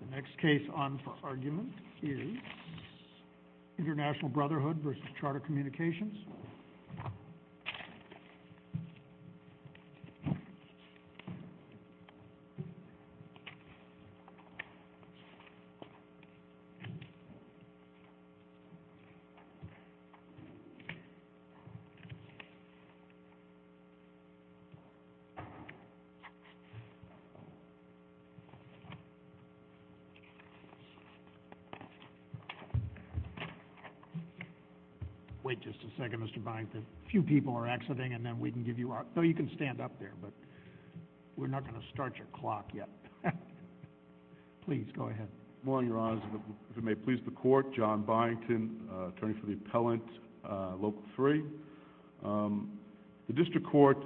The next case on for argument is International Brotherhood versus Charter Communications. Wait just a second, Mr. Byington, a few people are exiting and then we can give you our... no, you can stand up there, but we're not going to start your clock yet. Please, go ahead. Morning, Your Honors. If it may please the Court, John Byington, attorney for the appellant, Local 3. The district court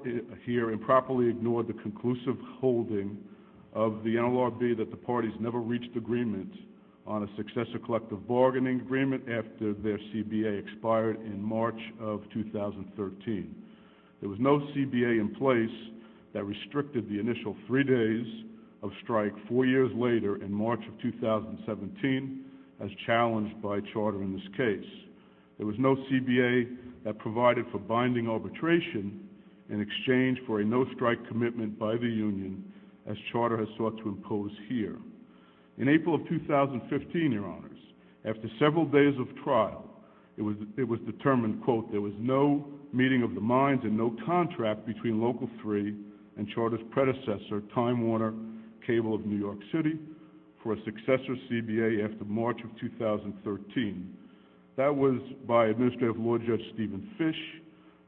here improperly ignored the conclusive holding of the NLRB that the parties never reached agreement on a successor collective bargaining agreement after their CBA expired in March of 2013. There was no CBA in place that restricted the initial three days of strike four years later in March of 2017 as challenged by Charter in this case. There was no CBA that provided for binding arbitration in exchange for a hearing. In April of 2015, Your Honors, after several days of trial, it was determined, quote, there was no meeting of the minds and no contract between Local 3 and Charter's predecessor, Time Warner Cable of New York City, for a successor CBA after March of 2013. That was by Administrative Lord Judge Stephen Fish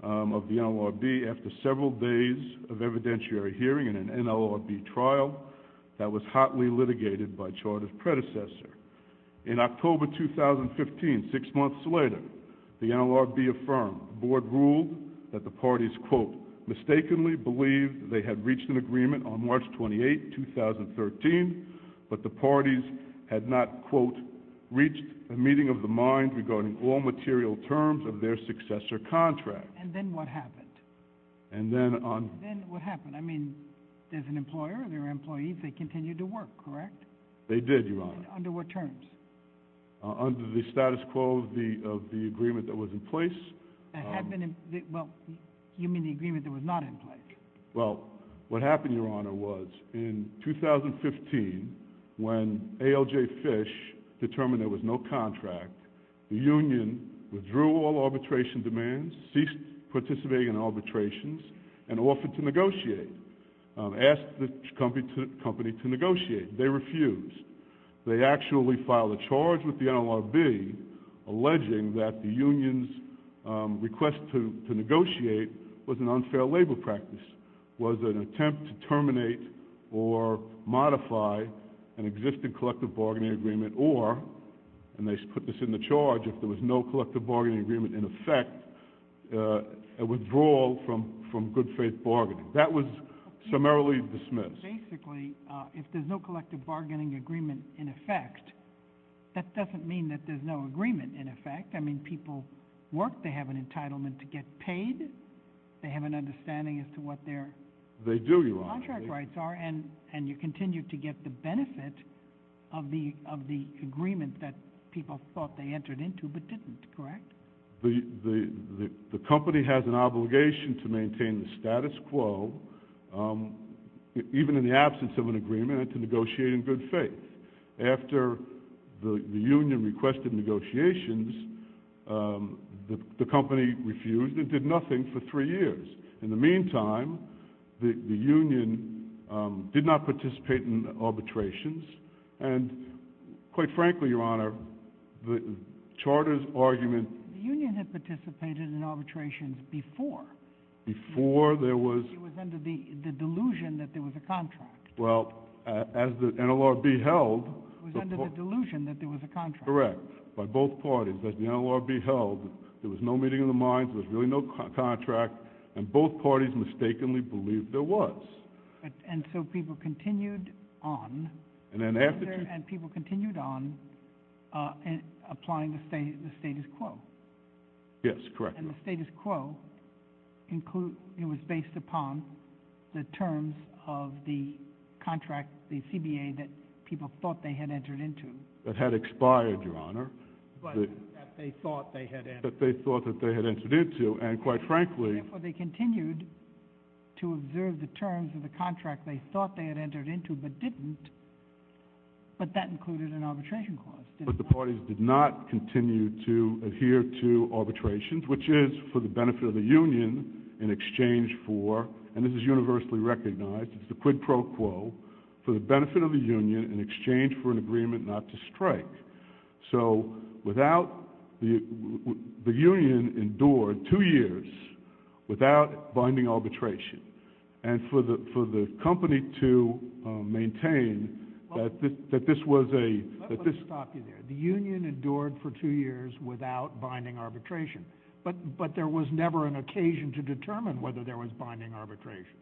of the NLRB after several days of evidentiary hearing in an NLRB trial that was hotly litigated by Charter's predecessor. In October 2015, six months later, the NLRB affirmed, the board ruled that the parties, quote, mistakenly believed they had reached an agreement on March 28, 2013, but the parties had not, quote, reached a meeting of the minds regarding all material terms of their successor contract. And then what happened? And then on... And then what happened? I mean, there's an employer, there are employees, they continue to work, correct? They did, Your Honor. Under what terms? Under the status quo of the agreement that was in place. That had been in... Well, you mean the agreement that was not in place? Well, what happened, Your Honor, was in 2015, when ALJ Fish determined there was no contract, the union withdrew all arbitration demands, ceased participating in arbitrations, and offered to negotiate, asked the company to negotiate. They refused. They actually filed a charge with the NLRB alleging that the union's request to negotiate was an unfair labor practice, was an attempt to terminate or modify an existing collective bargaining agreement, or, and they put this in the charge, if there was no collective bargaining agreement in effect, a withdrawal from good faith bargaining. That was summarily dismissed. Basically, if there's no collective bargaining agreement in effect, that doesn't mean that there's no agreement in effect. I mean, people work, they have an entitlement to get paid, they have an understanding as to what their... They do, Your Honor.... contract rights are, and you continue to get the benefit of the agreement that people thought they entered into, but didn't, correct? The company has an obligation to maintain the status quo, even in the absence of an agreement, to negotiate in good faith. After the union requested negotiations, the company refused and did nothing for three years. In the meantime, the union did not participate in arbitrations, and quite frankly, Your Honor, the Charter's argument... The union had participated in arbitrations before. Before there was... It was under the delusion that there was a contract. Well, as the NLRB held... It was under the delusion that there was a contract. Correct. By both parties, as the NLRB held, there was no meeting of the minds, there was really no contract, and both parties mistakenly believed there was. And so people continued on... And then after... And people continued on applying the status quo. Yes, correct. And the status quo was based upon the terms of the contract, the CBA, that people thought they had entered into. That had expired, Your Honor. But that they thought they had entered into. That they thought that they had entered into, and quite frankly... Therefore, they continued to observe the terms of the contract they thought they had entered into but didn't, but that included an arbitration clause. But the parties did not continue to adhere to arbitrations, which is for the benefit of the union in exchange for, and this is universally recognized, it's the quid pro quo, for the benefit of the union in exchange for an agreement not to strike. So without, the union endured two years without binding arbitration. And for the company to maintain that this was a... Let me stop you there. The union endured for two years without binding arbitration. But there was never an occasion to determine whether there was binding arbitration.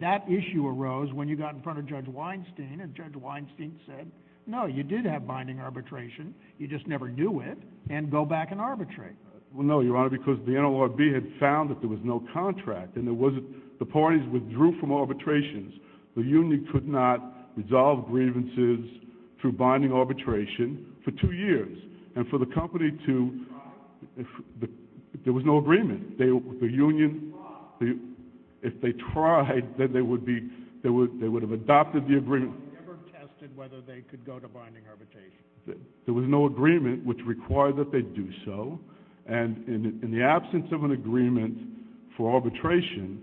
That issue arose when you got in front of Judge Weinstein, and Judge Weinstein said, no, you did have binding arbitration, you just never knew it, and go back and arbitrate. Well, no, Your Honor, because the NLRB had found that there was no contract. And there wasn't, the parties withdrew from arbitrations. The union could not resolve grievances through binding arbitration for two years. And for the company to, there was no agreement. The union, if they tried, they would have adopted the agreement. They never tested whether they could go to binding arbitration. There was no agreement which required that they do so. And in the absence of an agreement for arbitration,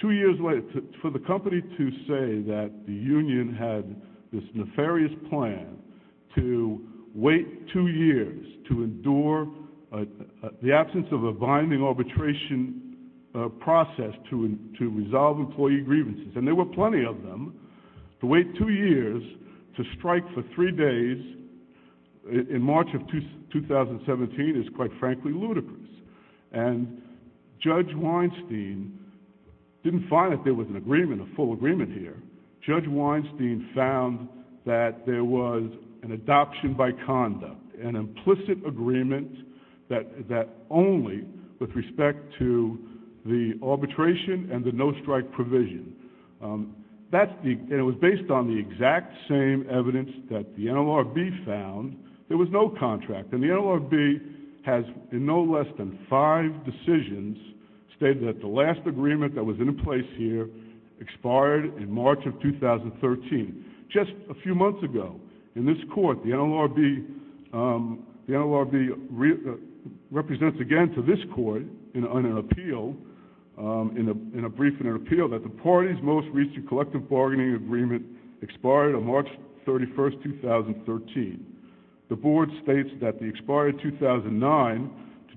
two years later, for the company to say that the union had this nefarious plan to wait two years to endure the absence of a binding arbitration process to resolve employee grievances, and there were plenty of them, to wait two years to strike for three days in March of 2017 is quite frankly ludicrous. And Judge Weinstein didn't find that there was an agreement, a full agreement here. Judge Weinstein found that there was an adoption by conduct, an implicit agreement that only with respect to the arbitration and the no-strike provision. That's the, and it was based on the exact same evidence that the NLRB found. There was no contract. And the NLRB has, in no less than five decisions, stated that the last agreement that was in place here expired in March of 2013. Just a few months ago, in this court, the NLRB represents again to this court in an appeal, in a brief in an appeal, that the party's most recent collective bargaining agreement expired on March 31, 2013. The board states that the expired 2009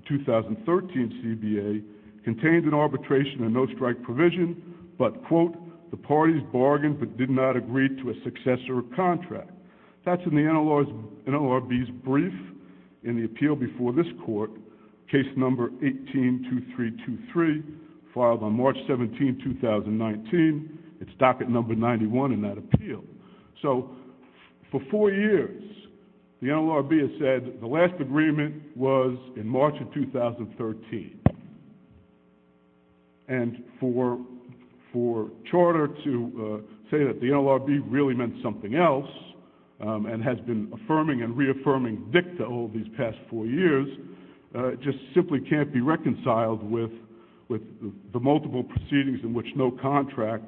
to 2013 CBA contained an arbitration and no-strike provision, but, quote, the parties bargained but did not agree to a successor contract. That's in the NLRB's brief in the appeal before this court, case number 182323, filed on March 17, 2019. So for four years, the NLRB has said the last agreement was in March of 2013. And for charter to say that the NLRB really meant something else and has been affirming and reaffirming dicta all these past four years just simply can't be reconciled with the multiple proceedings in which no contract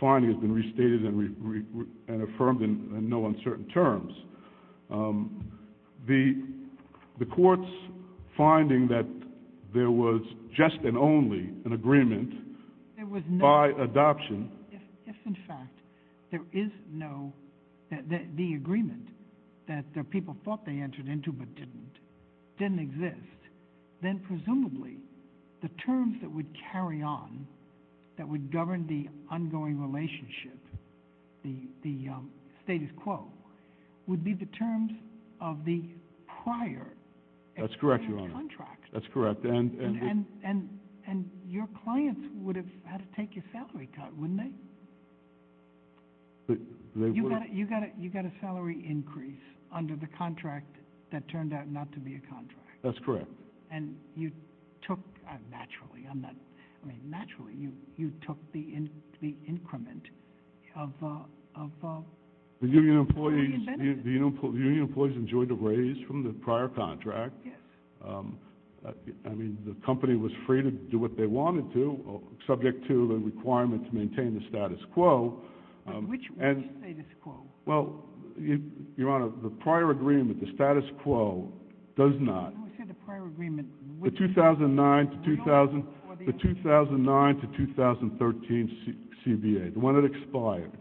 finding has been restated and affirmed in no uncertain terms. The court's finding that there was just and only an agreement by adoption— If, in fact, there is no—the agreement that the people thought they entered into but didn't, didn't exist, then presumably the terms that would carry on, that would govern the ongoing relationship, the status quo, would be the terms of the prior— That's correct, Your Honor. —expired contract. That's correct. And your clients would have had to take your salary cut, wouldn't they? They would. You got a salary increase under the contract that turned out not to be a contract. That's correct. And you took—naturally, I'm not—I mean, naturally, you took the increment of— The union employees enjoyed a raise from the prior contract. Yes. I mean, the company was free to do what they wanted to, subject to the requirement to maintain the status quo. Which status quo? Well, Your Honor, the prior agreement, the status quo, does not— When you say the prior agreement— The 2009 to 2013 CBA, the one that expired.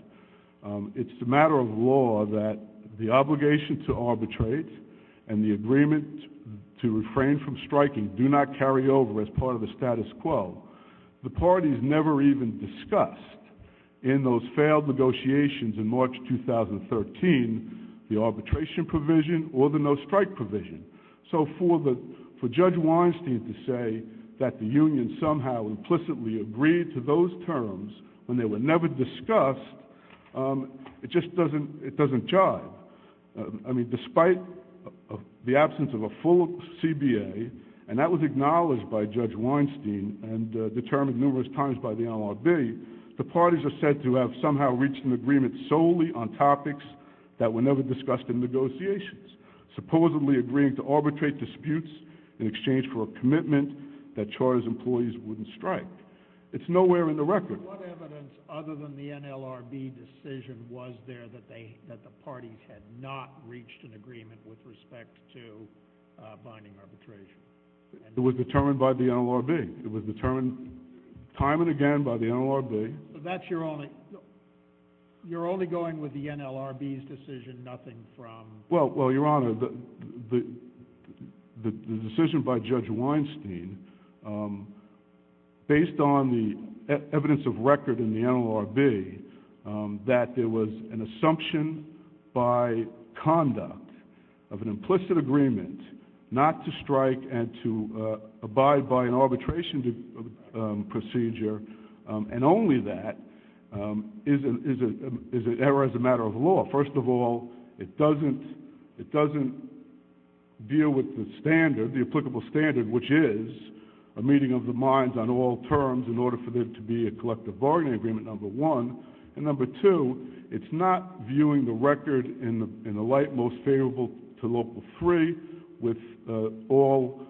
It's a matter of law that the obligation to arbitrate and the agreement to refrain from striking do not carry over as part of the status quo. The parties never even discussed in those failed negotiations in March 2013 the arbitration provision or the no-strike provision. So for Judge Weinstein to say that the union somehow implicitly agreed to those terms when they were never discussed, it just doesn't—it doesn't jive. I mean, despite the absence of a full CBA, and that was acknowledged by Judge Weinstein and determined numerous times by the NLRB, the parties are said to have somehow reached an agreement solely on topics that were never discussed in negotiations, supposedly agreeing to arbitrate disputes in exchange for a commitment that Charter's employees wouldn't strike. It's nowhere in the record. What evidence, other than the NLRB decision, was there that the parties had not reached an agreement with respect to binding arbitration? It was determined by the NLRB. It was determined time and again by the NLRB. So that's your only—you're only going with the NLRB's decision, nothing from— Well, Your Honor, the decision by Judge Weinstein, based on the evidence of record in the NLRB, that there was an assumption by conduct of an implicit agreement not to strike and to abide by an arbitration procedure, and only that, is an error as a matter of law. First of all, it doesn't deal with the standard, the applicable standard, which is a meeting of the minds on all terms in order for there to be a collective bargaining agreement, number one. And number two, it's not viewing the record in the light most favorable to Local 3 with all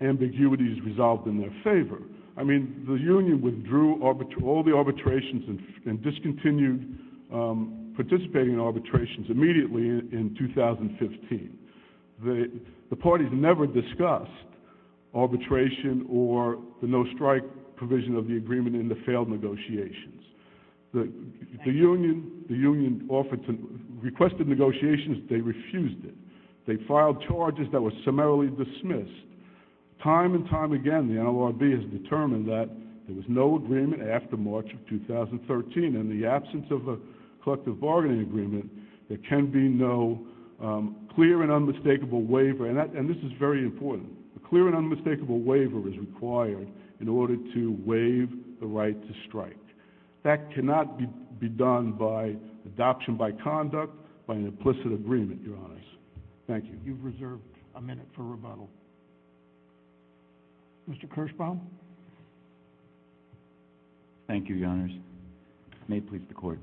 ambiguities resolved in their favor. I mean, the union withdrew all the arbitrations and discontinued participating in arbitrations immediately in 2015. The parties never discussed arbitration or the no-strike provision of the agreement in the failed negotiations. The union offered to—requested negotiations, they refused it. They filed charges that were summarily dismissed. Time and time again, the NLRB has determined that there was no agreement after March of 2013, and in the absence of a collective bargaining agreement, there can be no clear and unmistakable waiver, and this is very important. A clear and unmistakable waiver is required in order to waive the right to strike. That cannot be done by adoption by conduct, by an implicit agreement, Your Honors. Thank you. You've reserved a minute for rebuttal. Mr. Kirschbaum? Thank you, Your Honors. May it please the Court.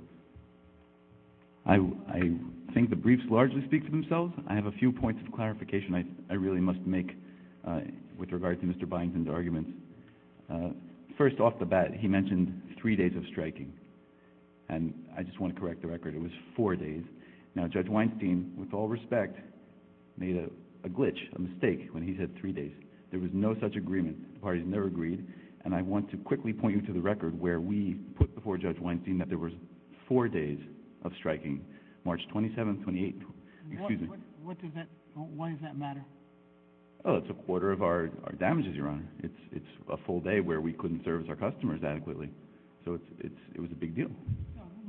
I think the briefs largely speak for themselves. I have a few points of clarification I really must make with regard to Mr. Byington's arguments. First, off the bat, he mentioned three days of striking, and I just want to correct the record. It was four days. Now, Judge Weinstein, with all respect, made a glitch, a mistake, when he said three days. There was no such agreement. The parties never agreed, and I want to quickly point you to the record where we put before Judge Weinstein that there was four days of striking, March 27th, 28th. Excuse me. Why does that matter? It's a quarter of our damages, Your Honor. It's a full day where we couldn't serve our customers adequately, so it was a big deal.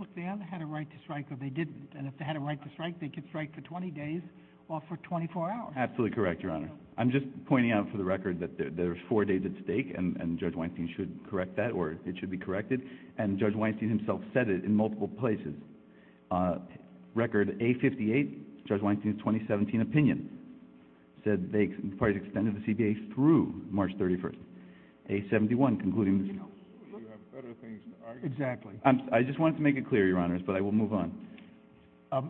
Look, they either had a right to strike or they didn't, and if they had a right to strike, they could strike for 20 days or for 24 hours. Absolutely correct, Your Honor. I'm just pointing out for the record that there's four days at stake, and Judge Weinstein should correct that, or it should be corrected, and Judge Weinstein himself said it in multiple places. Record A58, Judge Weinstein's 2017 opinion, said the parties extended the CBA through March 31st. A71, concluding the CBA. You have better things to argue about. Exactly. I just wanted to make it clear, Your Honors, but I will move on.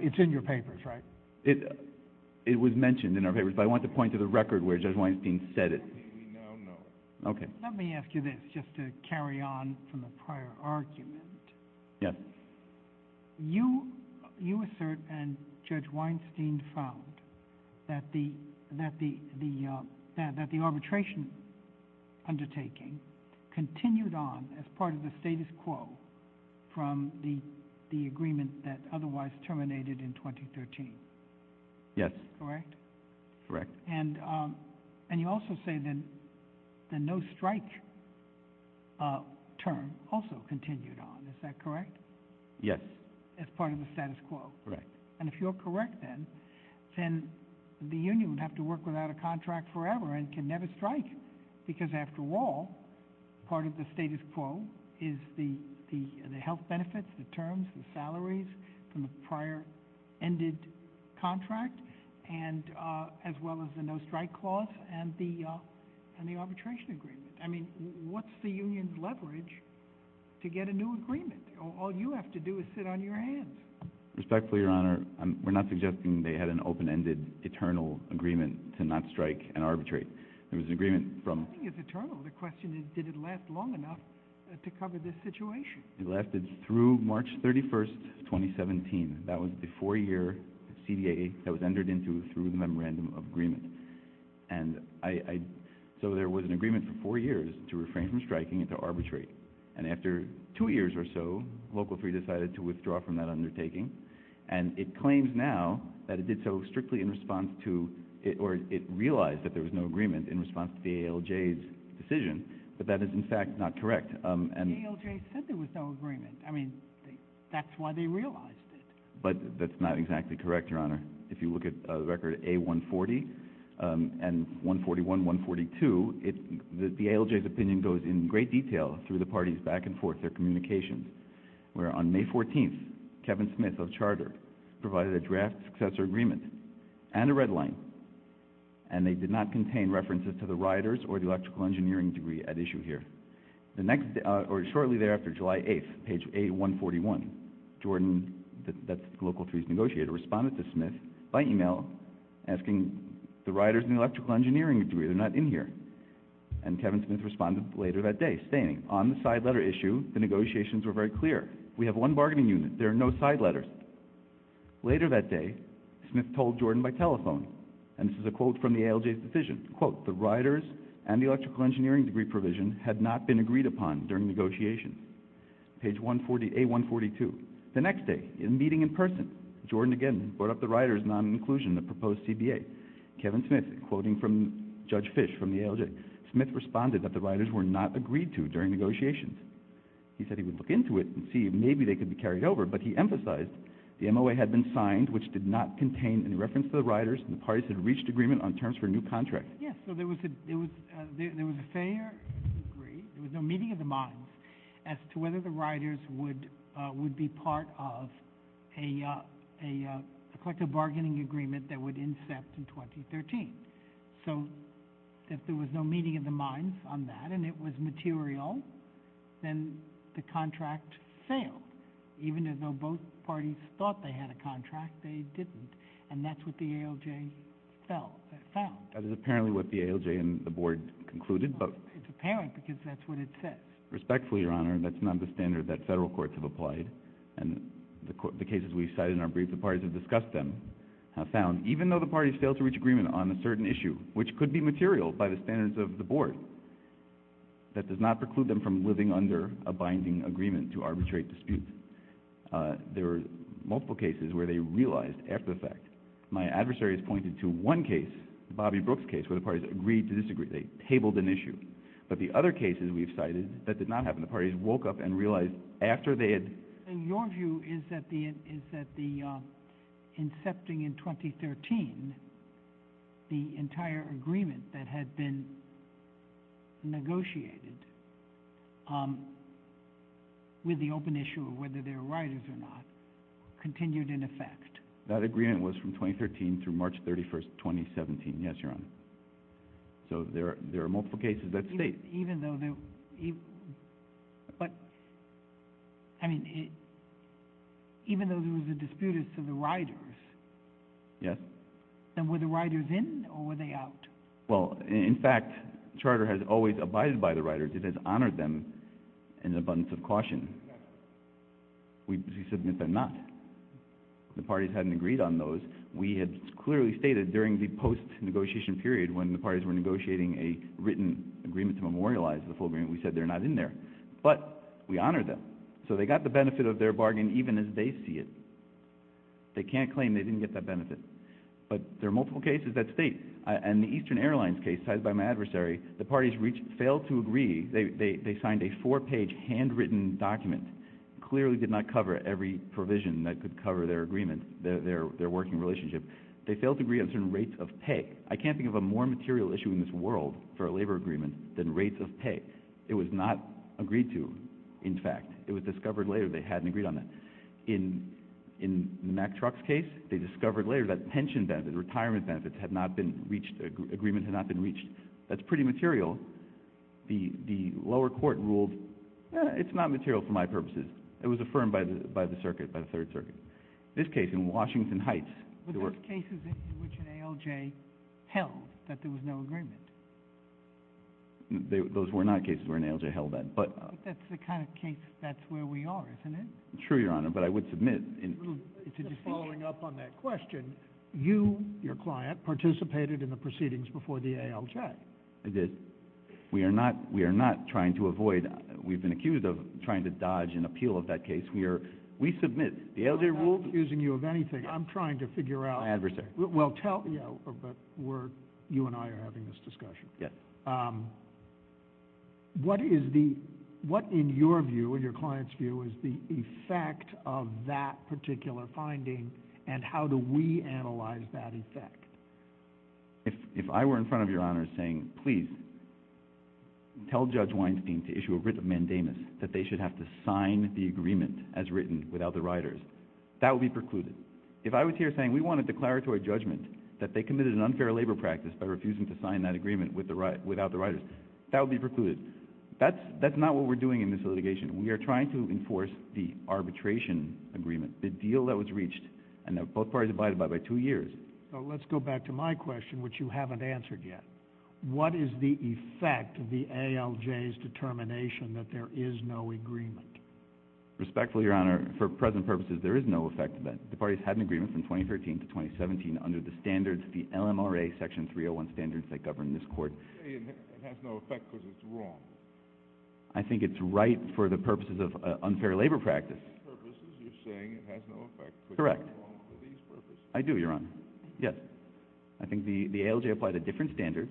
It's in your papers, right? It was mentioned in our papers, but I wanted to point to the record where Judge Weinstein said it. Let me ask you this, just to carry on from the prior argument. Yes. You assert and Judge Weinstein found that the arbitration undertaking continued on as part of the status quo from the agreement that otherwise terminated in 2013. Yes. Correct? Correct. And you also say that the no-strike term also continued on. Is that correct? Yes. As part of the status quo. Correct. And if you're correct, then the union would have to work without a contract forever and can never strike because, after all, part of the status quo is the health benefits, the terms, the salaries from the prior ended contract, as well as the no-strike clause and the arbitration agreement. I mean, what's the union's leverage to get a new agreement? All you have to do is sit on your hands. Respectfully, Your Honor, we're not suggesting they had an open-ended, eternal agreement to not strike and arbitrate. There was an agreement from— Nothing is eternal. The question is, did it last long enough to cover this situation? It lasted through March 31, 2017. That was the four-year CDA that was entered into through the memorandum of agreement. And so there was an agreement for four years to refrain from striking and to arbitrate. And after two years or so, Local 3 decided to withdraw from that undertaking. And it claims now that it did so strictly in response to—or it realized that there was no agreement in response to the ALJ's decision. But that is, in fact, not correct. The ALJ said there was no agreement. I mean, that's why they realized it. But that's not exactly correct, Your Honor. If you look at Record A-140 and 141-142, the ALJ's opinion goes in great detail through the parties' back-and-forth, their communications, where on May 14th, Kevin Smith of Charter provided a draft successor agreement and a red line, and they did not contain references to the rioters or the electrical engineering degree at issue here. The next—or shortly thereafter, July 8th, page A-141, Jordan—that's Local 3's negotiator—responded to Smith by email asking the rioters and the electrical engineering degree. They're not in here. And Kevin Smith responded later that day, stating, on the side letter issue, the negotiations were very clear. We have one bargaining unit. There are no side letters. Later that day, Smith told Jordan by telephone, and this is a quote from the ALJ's decision, quote, the rioters and the electrical engineering degree provision had not been agreed upon during negotiations. Page A-142, the next day, in a meeting in person, Jordan again brought up the rioters' non-inclusion in the proposed CBA. Kevin Smith, quoting from Judge Fish from the ALJ, Smith responded that the rioters were not agreed to during negotiations. He said he would look into it and see if maybe they could be carried over, but he emphasized the MOA had been signed, which did not contain any reference to the rioters, and the parties had reached agreement on terms for a new contract. Yes, so there was a fair agree. There was no meeting of the minds as to whether the rioters would be part of a collective bargaining agreement that would incept in 2013. So if there was no meeting of the minds on that and it was material, then the contract failed. Even though both parties thought they had a contract, they didn't. And that's what the ALJ found. That is apparently what the ALJ and the board concluded. It's apparent because that's what it says. Respectfully, Your Honor, that's not the standard that federal courts have applied. And the cases we've cited in our brief, the parties have discussed them, have found, even though the parties failed to reach agreement on a certain issue, which could be material by the standards of the board, that does not preclude them from living under a binding agreement to arbitrate disputes. There were multiple cases where they realized after the fact. My adversaries pointed to one case, Bobby Brooks' case, where the parties agreed to disagree. They tabled an issue. But the other cases we've cited, that did not happen. The parties woke up and realized after they had... Your view is that the incepting in 2013, the entire agreement that had been negotiated with the open issue of whether they were riders or not, continued in effect. That agreement was from 2013 through March 31st, 2017. Yes, Your Honor. So there are multiple cases that state... Even though there... But... I mean... Even though there was a dispute as to the riders... Yes? Then were the riders in or were they out? Well, in fact, the Charter has always abided by the riders. It has honored them in abundance of caution. Yes. We submit they're not. The parties hadn't agreed on those. We had clearly stated during the post-negotiation period when the parties were negotiating a written agreement to memorialize the full agreement, we said they're not in there. But we honored them. So they got the benefit of their bargain even as they see it. They can't claim they didn't get that benefit. But there are multiple cases that state... In the Eastern Airlines case cited by my adversary, the parties failed to agree. They signed a four-page handwritten document. It clearly did not cover every provision that could cover their agreement, their working relationship. They failed to agree on certain rates of pay. I can't think of a more material issue in this world for a labor agreement than rates of pay. It was not agreed to, in fact. It was discovered later they hadn't agreed on that. In Mack Truck's case, they discovered later that pension benefits, retirement benefits had not been reached, agreements had not been reached. That's pretty material. The lower court ruled it's not material for my purposes. It was affirmed by the circuit, by the Third Circuit. This case in Washington Heights... Were those cases in which an ALJ held that there was no agreement? Those were not cases where an ALJ held that. But that's the kind of case that's where we are, isn't it? True, Your Honor, but I would submit... Just following up on that question, you, your client, participated in the proceedings before the ALJ. I did. We are not trying to avoid... We've been accused of trying to dodge an appeal of that case. We submit. The ALJ ruled... I'm not accusing you of anything. I'm trying to figure out... My adversary. You and I are having this discussion. Yes. What is the... What, in your view, in your client's view, is the effect of that particular finding, and how do we analyze that effect? If I were in front of Your Honor saying, please, tell Judge Weinstein to issue a writ of mandamus, that they should have to sign the agreement as written without the writers, that would be precluded. If I was here saying, we want a declaratory judgment that they committed an unfair labor practice by refusing to sign that agreement without the writers, that would be precluded. That's not what we're doing in this litigation. We are trying to enforce the arbitration agreement, the deal that was reached, and that both parties abided by, by two years. Let's go back to my question, which you haven't answered yet. What is the effect of the ALJ's determination that there is no agreement? Respectfully, Your Honor, for present purposes, there is no effect of that. The parties had an agreement from 2013 to 2017 under the standards, the LMRA Section 301 standards that govern this court. You're saying it has no effect because it's wrong. I think it's right for the purposes of unfair labor practice. You're saying it has no effect because it's wrong for these purposes. Correct. I do, Your Honor. Yes. I think the ALJ applied a different standard.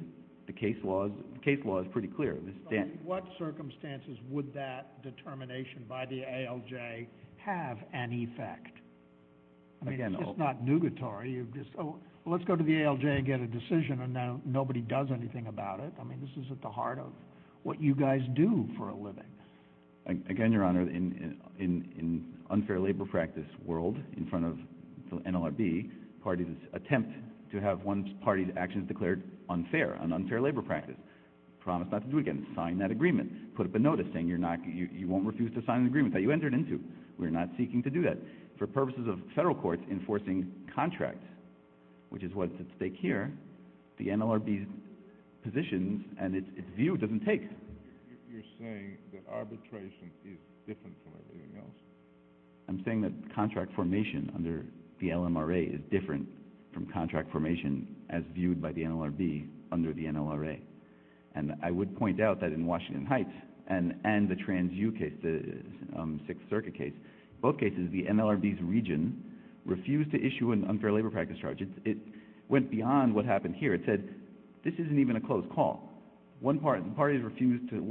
The case law is pretty clear. Under what circumstances would that determination by the ALJ have an effect? I mean, it's not nugatory. Let's go to the ALJ and get a decision, and nobody does anything about it. I mean, this is at the heart of what you guys do for a living. Again, Your Honor, in unfair labor practice world, in front of the NLRB, parties attempt to have one party's actions declared unfair, an unfair labor practice, promise not to do it again, sign that agreement, put up a notice saying you won't refuse to sign an agreement that you entered into. We're not seeking to do that. For purposes of federal courts enforcing contract, which is what's at stake here, the NLRB's positions and its view doesn't take. You're saying that arbitration is different from everything else. I'm saying that contract formation under the LMRA is different from contract formation as viewed by the NLRB under the NLRA. And I would point out that in Washington Heights and the Trans-U case, the Sixth Circuit case, both cases the NLRB's region refused to issue an unfair labor practice charge. It went beyond what happened here. It said this isn't even a closed call. One party refused to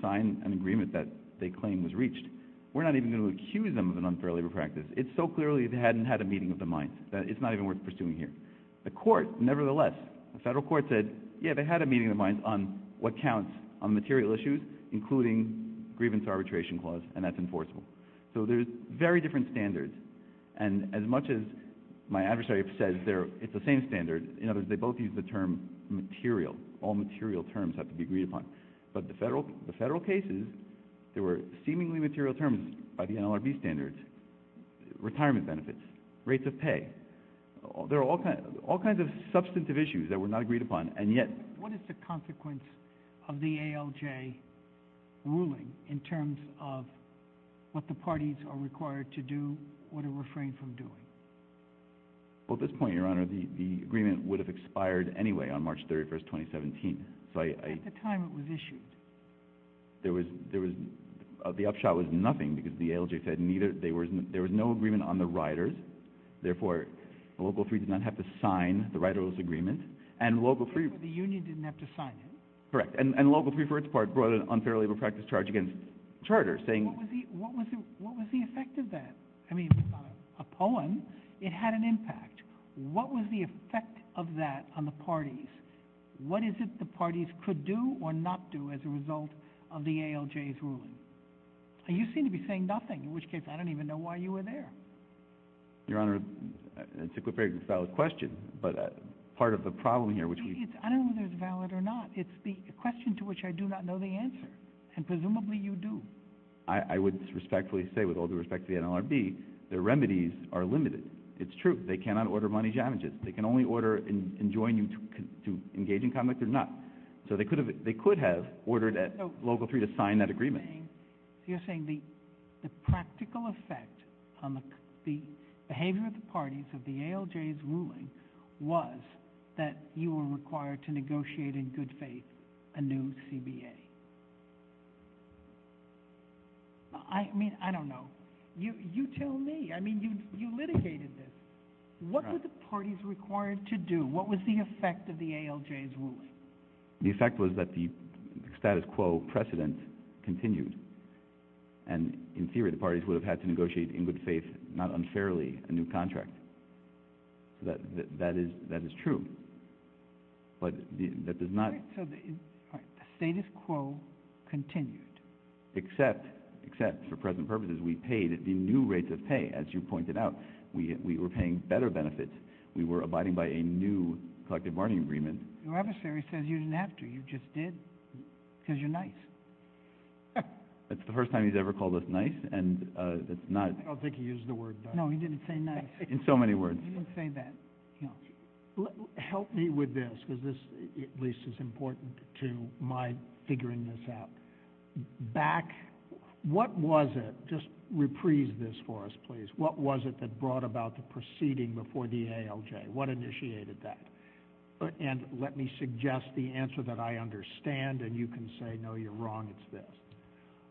sign an agreement that they claimed was reached. We're not even going to accuse them of an unfair labor practice. It's so clearly they hadn't had a meeting of the mind. It's not even worth pursuing here. The court, nevertheless, the federal court said, yeah, they had a meeting of the mind on what counts on material issues, including grievance arbitration clause, and that's enforceable. So there's very different standards. And as much as my adversary says it's the same standard, in other words, they both use the term material. All material terms have to be agreed upon. But the federal cases, there were seemingly material terms by the NLRB standards, retirement benefits, rates of pay. There are all kinds of substantive issues that were not agreed upon, and yet. What is the consequence of the ALJ ruling in terms of what the parties are required to do or to refrain from doing? Well, at this point, Your Honor, the agreement would have expired anyway on March 31, 2017. At the time it was issued. The upshot was nothing because the ALJ said there was no agreement on the riders. Therefore, Local 3 did not have to sign the riderless agreement. The union didn't have to sign it? And Local 3, for its part, brought an unfair labor practice charge against charters saying What was the effect of that? I mean, upon a poem, it had an impact. What was the effect of that on the parties? What is it the parties could do or not do as a result of the ALJ's ruling? You seem to be saying nothing, in which case I don't even know why you were there. Your Honor, it's a very valid question, but part of the problem here, which we I don't know whether it's valid or not. It's the question to which I do not know the answer, and presumably you do. I would respectfully say, with all due respect to the NLRB, the remedies are limited. It's true. They cannot order money damages. They can only order and join you to engage in conduct or not. So they could have ordered Local 3 to sign that agreement. You're saying the practical effect on the behavior of the parties of the ALJ's ruling was that you were required to negotiate in good faith a new CBA. I mean, I don't know. You tell me. I mean, you litigated this. What were the parties required to do? What was the effect of the ALJ's ruling? The effect was that the status quo precedent continued. And in theory, the parties would have had to negotiate in good faith, not unfairly, a new contract. So that is true. But that does not... All right, so the status quo continued. Except, for present purposes, we paid the new rates of pay, as you pointed out. We were paying better benefits. We were abiding by a new collective bargaining agreement. Your adversary says you didn't have to. You just did. Because you're nice. That's the first time he's ever called us nice, and that's not... I don't think he used the word nice. No, he didn't say nice. In so many words. He didn't say that. Help me with this, because this, at least, is important to my figuring this out. Back... What was it... Just reprise this for us, please. What was it that brought about the proceeding before the ALJ? What initiated that? And let me suggest the answer that I understand, and you can say, no, you're wrong. It's this.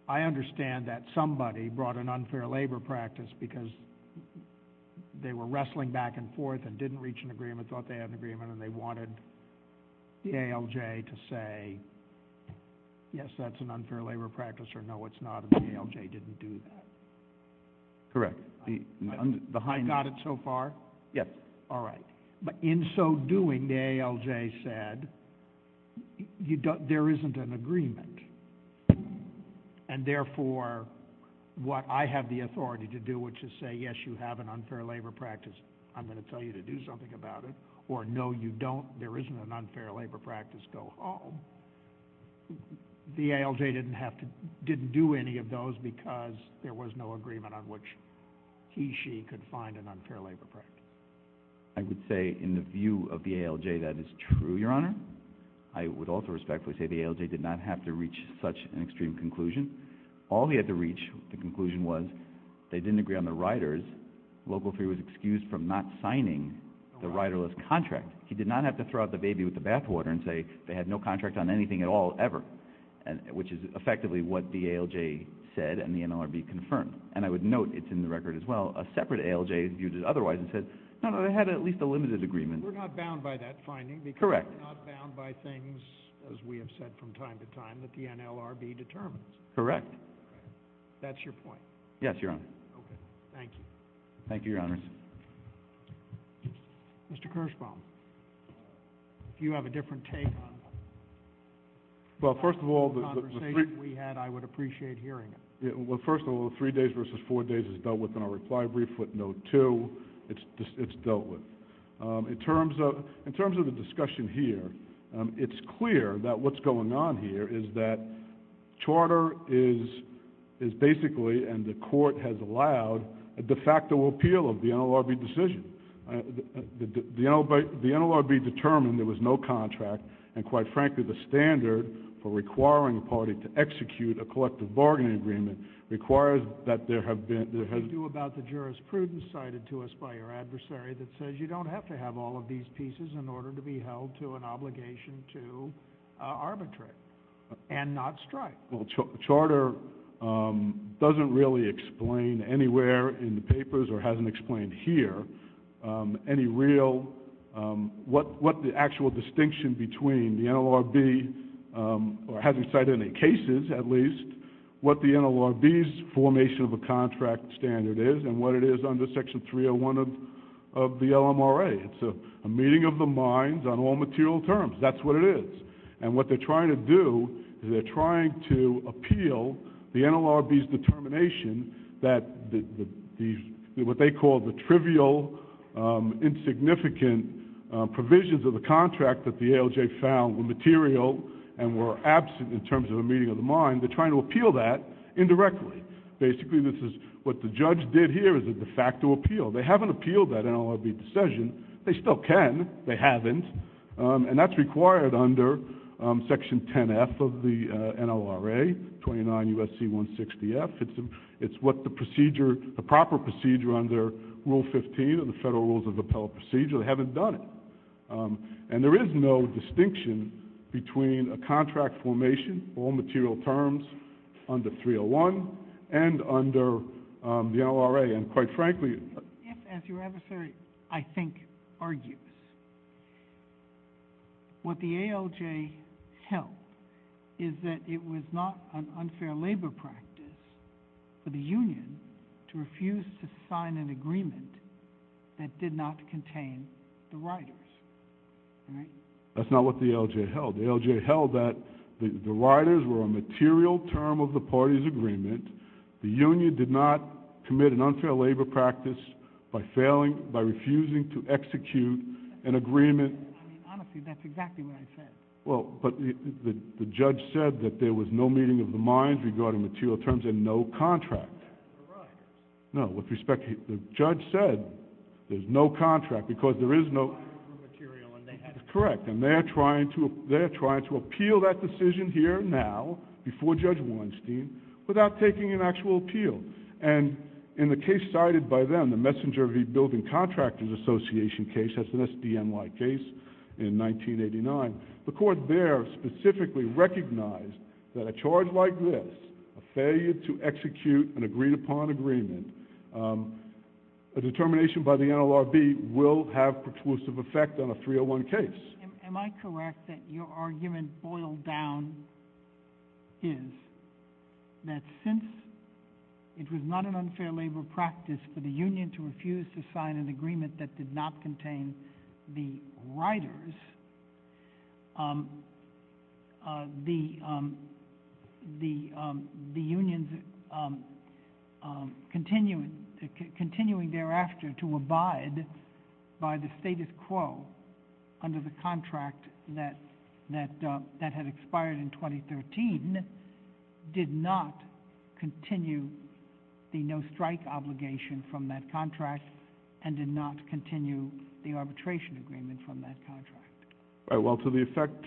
I understand that somebody brought an unfair labor practice because they were wrestling back and forth and didn't reach an agreement, thought they had an agreement, and they wanted the ALJ to say, yes, that's an unfair labor practice, or no, it's not, and the ALJ didn't do that. Correct. I've got it so far? Yes. All right. But in so doing, the ALJ said, there isn't an agreement, and therefore, what I have the authority to do, which is say, yes, you have an unfair labor practice, I'm going to tell you to do something about it, or no, you don't, there isn't an unfair labor practice, go home. The ALJ didn't do any of those because there was no agreement on which he, she could find an unfair labor practice. I would say, in the view of the ALJ, that is true, Your Honor. I would also respectfully say the ALJ did not have to reach such an extreme conclusion. All they had to reach, the conclusion was, they didn't agree on the riders, Local 3 was excused from not signing the riderless contract. He did not have to throw out the baby with the bathwater and say they had no contract on anything at all, ever, which is effectively what the ALJ said and the NLRB confirmed. And I would note, it's in the record as well, a separate ALJ viewed it otherwise and said, no, no, they had at least a limited agreement. We're not bound by that finding because we're not bound by things, as we have said from time to time, that the NLRB determines. Correct. That's your point. Yes, Your Honor. Okay. Thank you. Thank you, Your Honors. Mr. Kirshbaum, if you have a different take on the conversation we had, I would appreciate hearing it. Well, first of all, the three days versus four days is dealt with in our reply brief with note two. It's dealt with. In terms of the discussion here, it's clear that what's going on here is that charter is basically, and the Court has allowed, a de facto appeal of the NLRB decision. The NLRB determined there was no contract and, quite frankly, the standard for requiring a party to execute a collective bargaining agreement requires that there have been – What about the jurisprudence cited to us by your adversary that says you don't have to have all of these pieces in order to be held to an obligation to arbitrate and not strike? Charter doesn't really explain anywhere in the papers or hasn't explained here any real – what the actual distinction between the NLRB, or hasn't cited any cases at least, what the NLRB's formation of a contract standard is and what it is under Section 301 of the LMRA. It's a meeting of the minds on all material terms. That's what it is. And what they're trying to do is they're trying to appeal the NLRB's determination that the – what they call the trivial, insignificant provisions of the contract that the ALJ found were material and were absent in terms of a meeting of the mind. They're trying to appeal that indirectly. Basically, this is what the judge did here is a de facto appeal. They haven't appealed that NLRB decision. They still can. They haven't. And that's required under Section 10F of the NLRA, 29 U.S.C. 160F. It's what the procedure – the proper procedure under Rule 15 of the Federal Rules of Appellate Procedure. They haven't done it. And there is no distinction between a contract formation, all material terms, under 301 and under the NLRA. And quite frankly – If, as your adversary, I think, argues, what the ALJ held is that it was not an unfair labor practice for the union to refuse to sign an agreement that did not contain the riders, right? That's not what the ALJ held. The ALJ held that the riders were a material term of the party's agreement. The union did not commit an unfair labor practice by failing – by refusing to execute an agreement. I mean, honestly, that's exactly what I said. Well, but the judge said that there was no meeting of the minds regarding material terms and no contract. No, with respect to – the judge said there's no contract because there is no – It's correct. And they're trying to appeal that decision here now, before Judge Weinstein, without taking an actual appeal. And in the case cited by them, the Messenger v. Building Contractors Association case, that's an SDNY case in 1989, the court there specifically recognized that a charge like this, a failure to execute an agreed-upon agreement, a determination by the NLRB will have preclusive effect on a 301 case. Am I correct that your argument boiled down is that since it was not an unfair labor practice for the union to refuse to sign an agreement that did not contain the riders, the unions continuing thereafter to abide by the status quo under the contract that had expired in 2013 did not continue the no-strike obligation from that contract, and did not continue the arbitration agreement from that contract? Well, to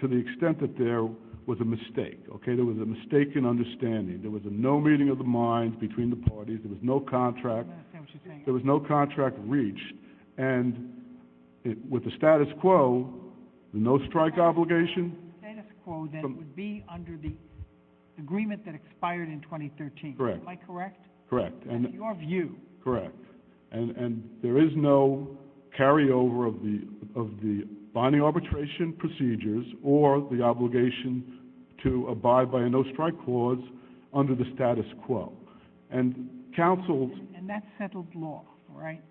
the extent that there was a mistake. There was a mistaken understanding. There was no meeting of the minds between the parties. There was no contract. I don't understand what you're saying. There was no contract reached. And with the status quo, the no-strike obligation – The agreement that expired in 2013. Am I correct? Correct. That's your view. Correct. And there is no carryover of the bonding arbitration procedures or the obligation to abide by a no-strike clause under the status quo. And that's settled law, right?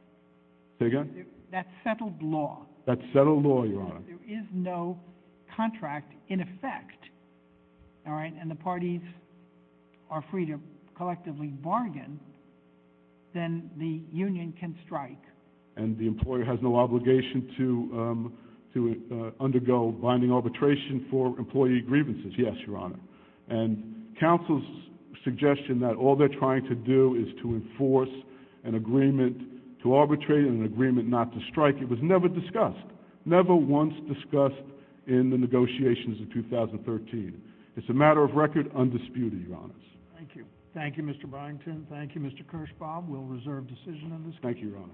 Say again? That's settled law. That's settled law, Your Honor. There is no contract in effect. All right? And the parties are free to collectively bargain. Then the union can strike. And the employer has no obligation to undergo bonding arbitration for employee grievances. Yes, Your Honor. And counsel's suggestion that all they're trying to do is to enforce an agreement to arbitrate and an agreement not to strike, it was never discussed. Never once discussed in the negotiations of 2013. It's a matter of record undisputed, Your Honor. Thank you. Thank you, Mr. Byington. Thank you, Mr. Kirschbaum. Thank you, Your Honor.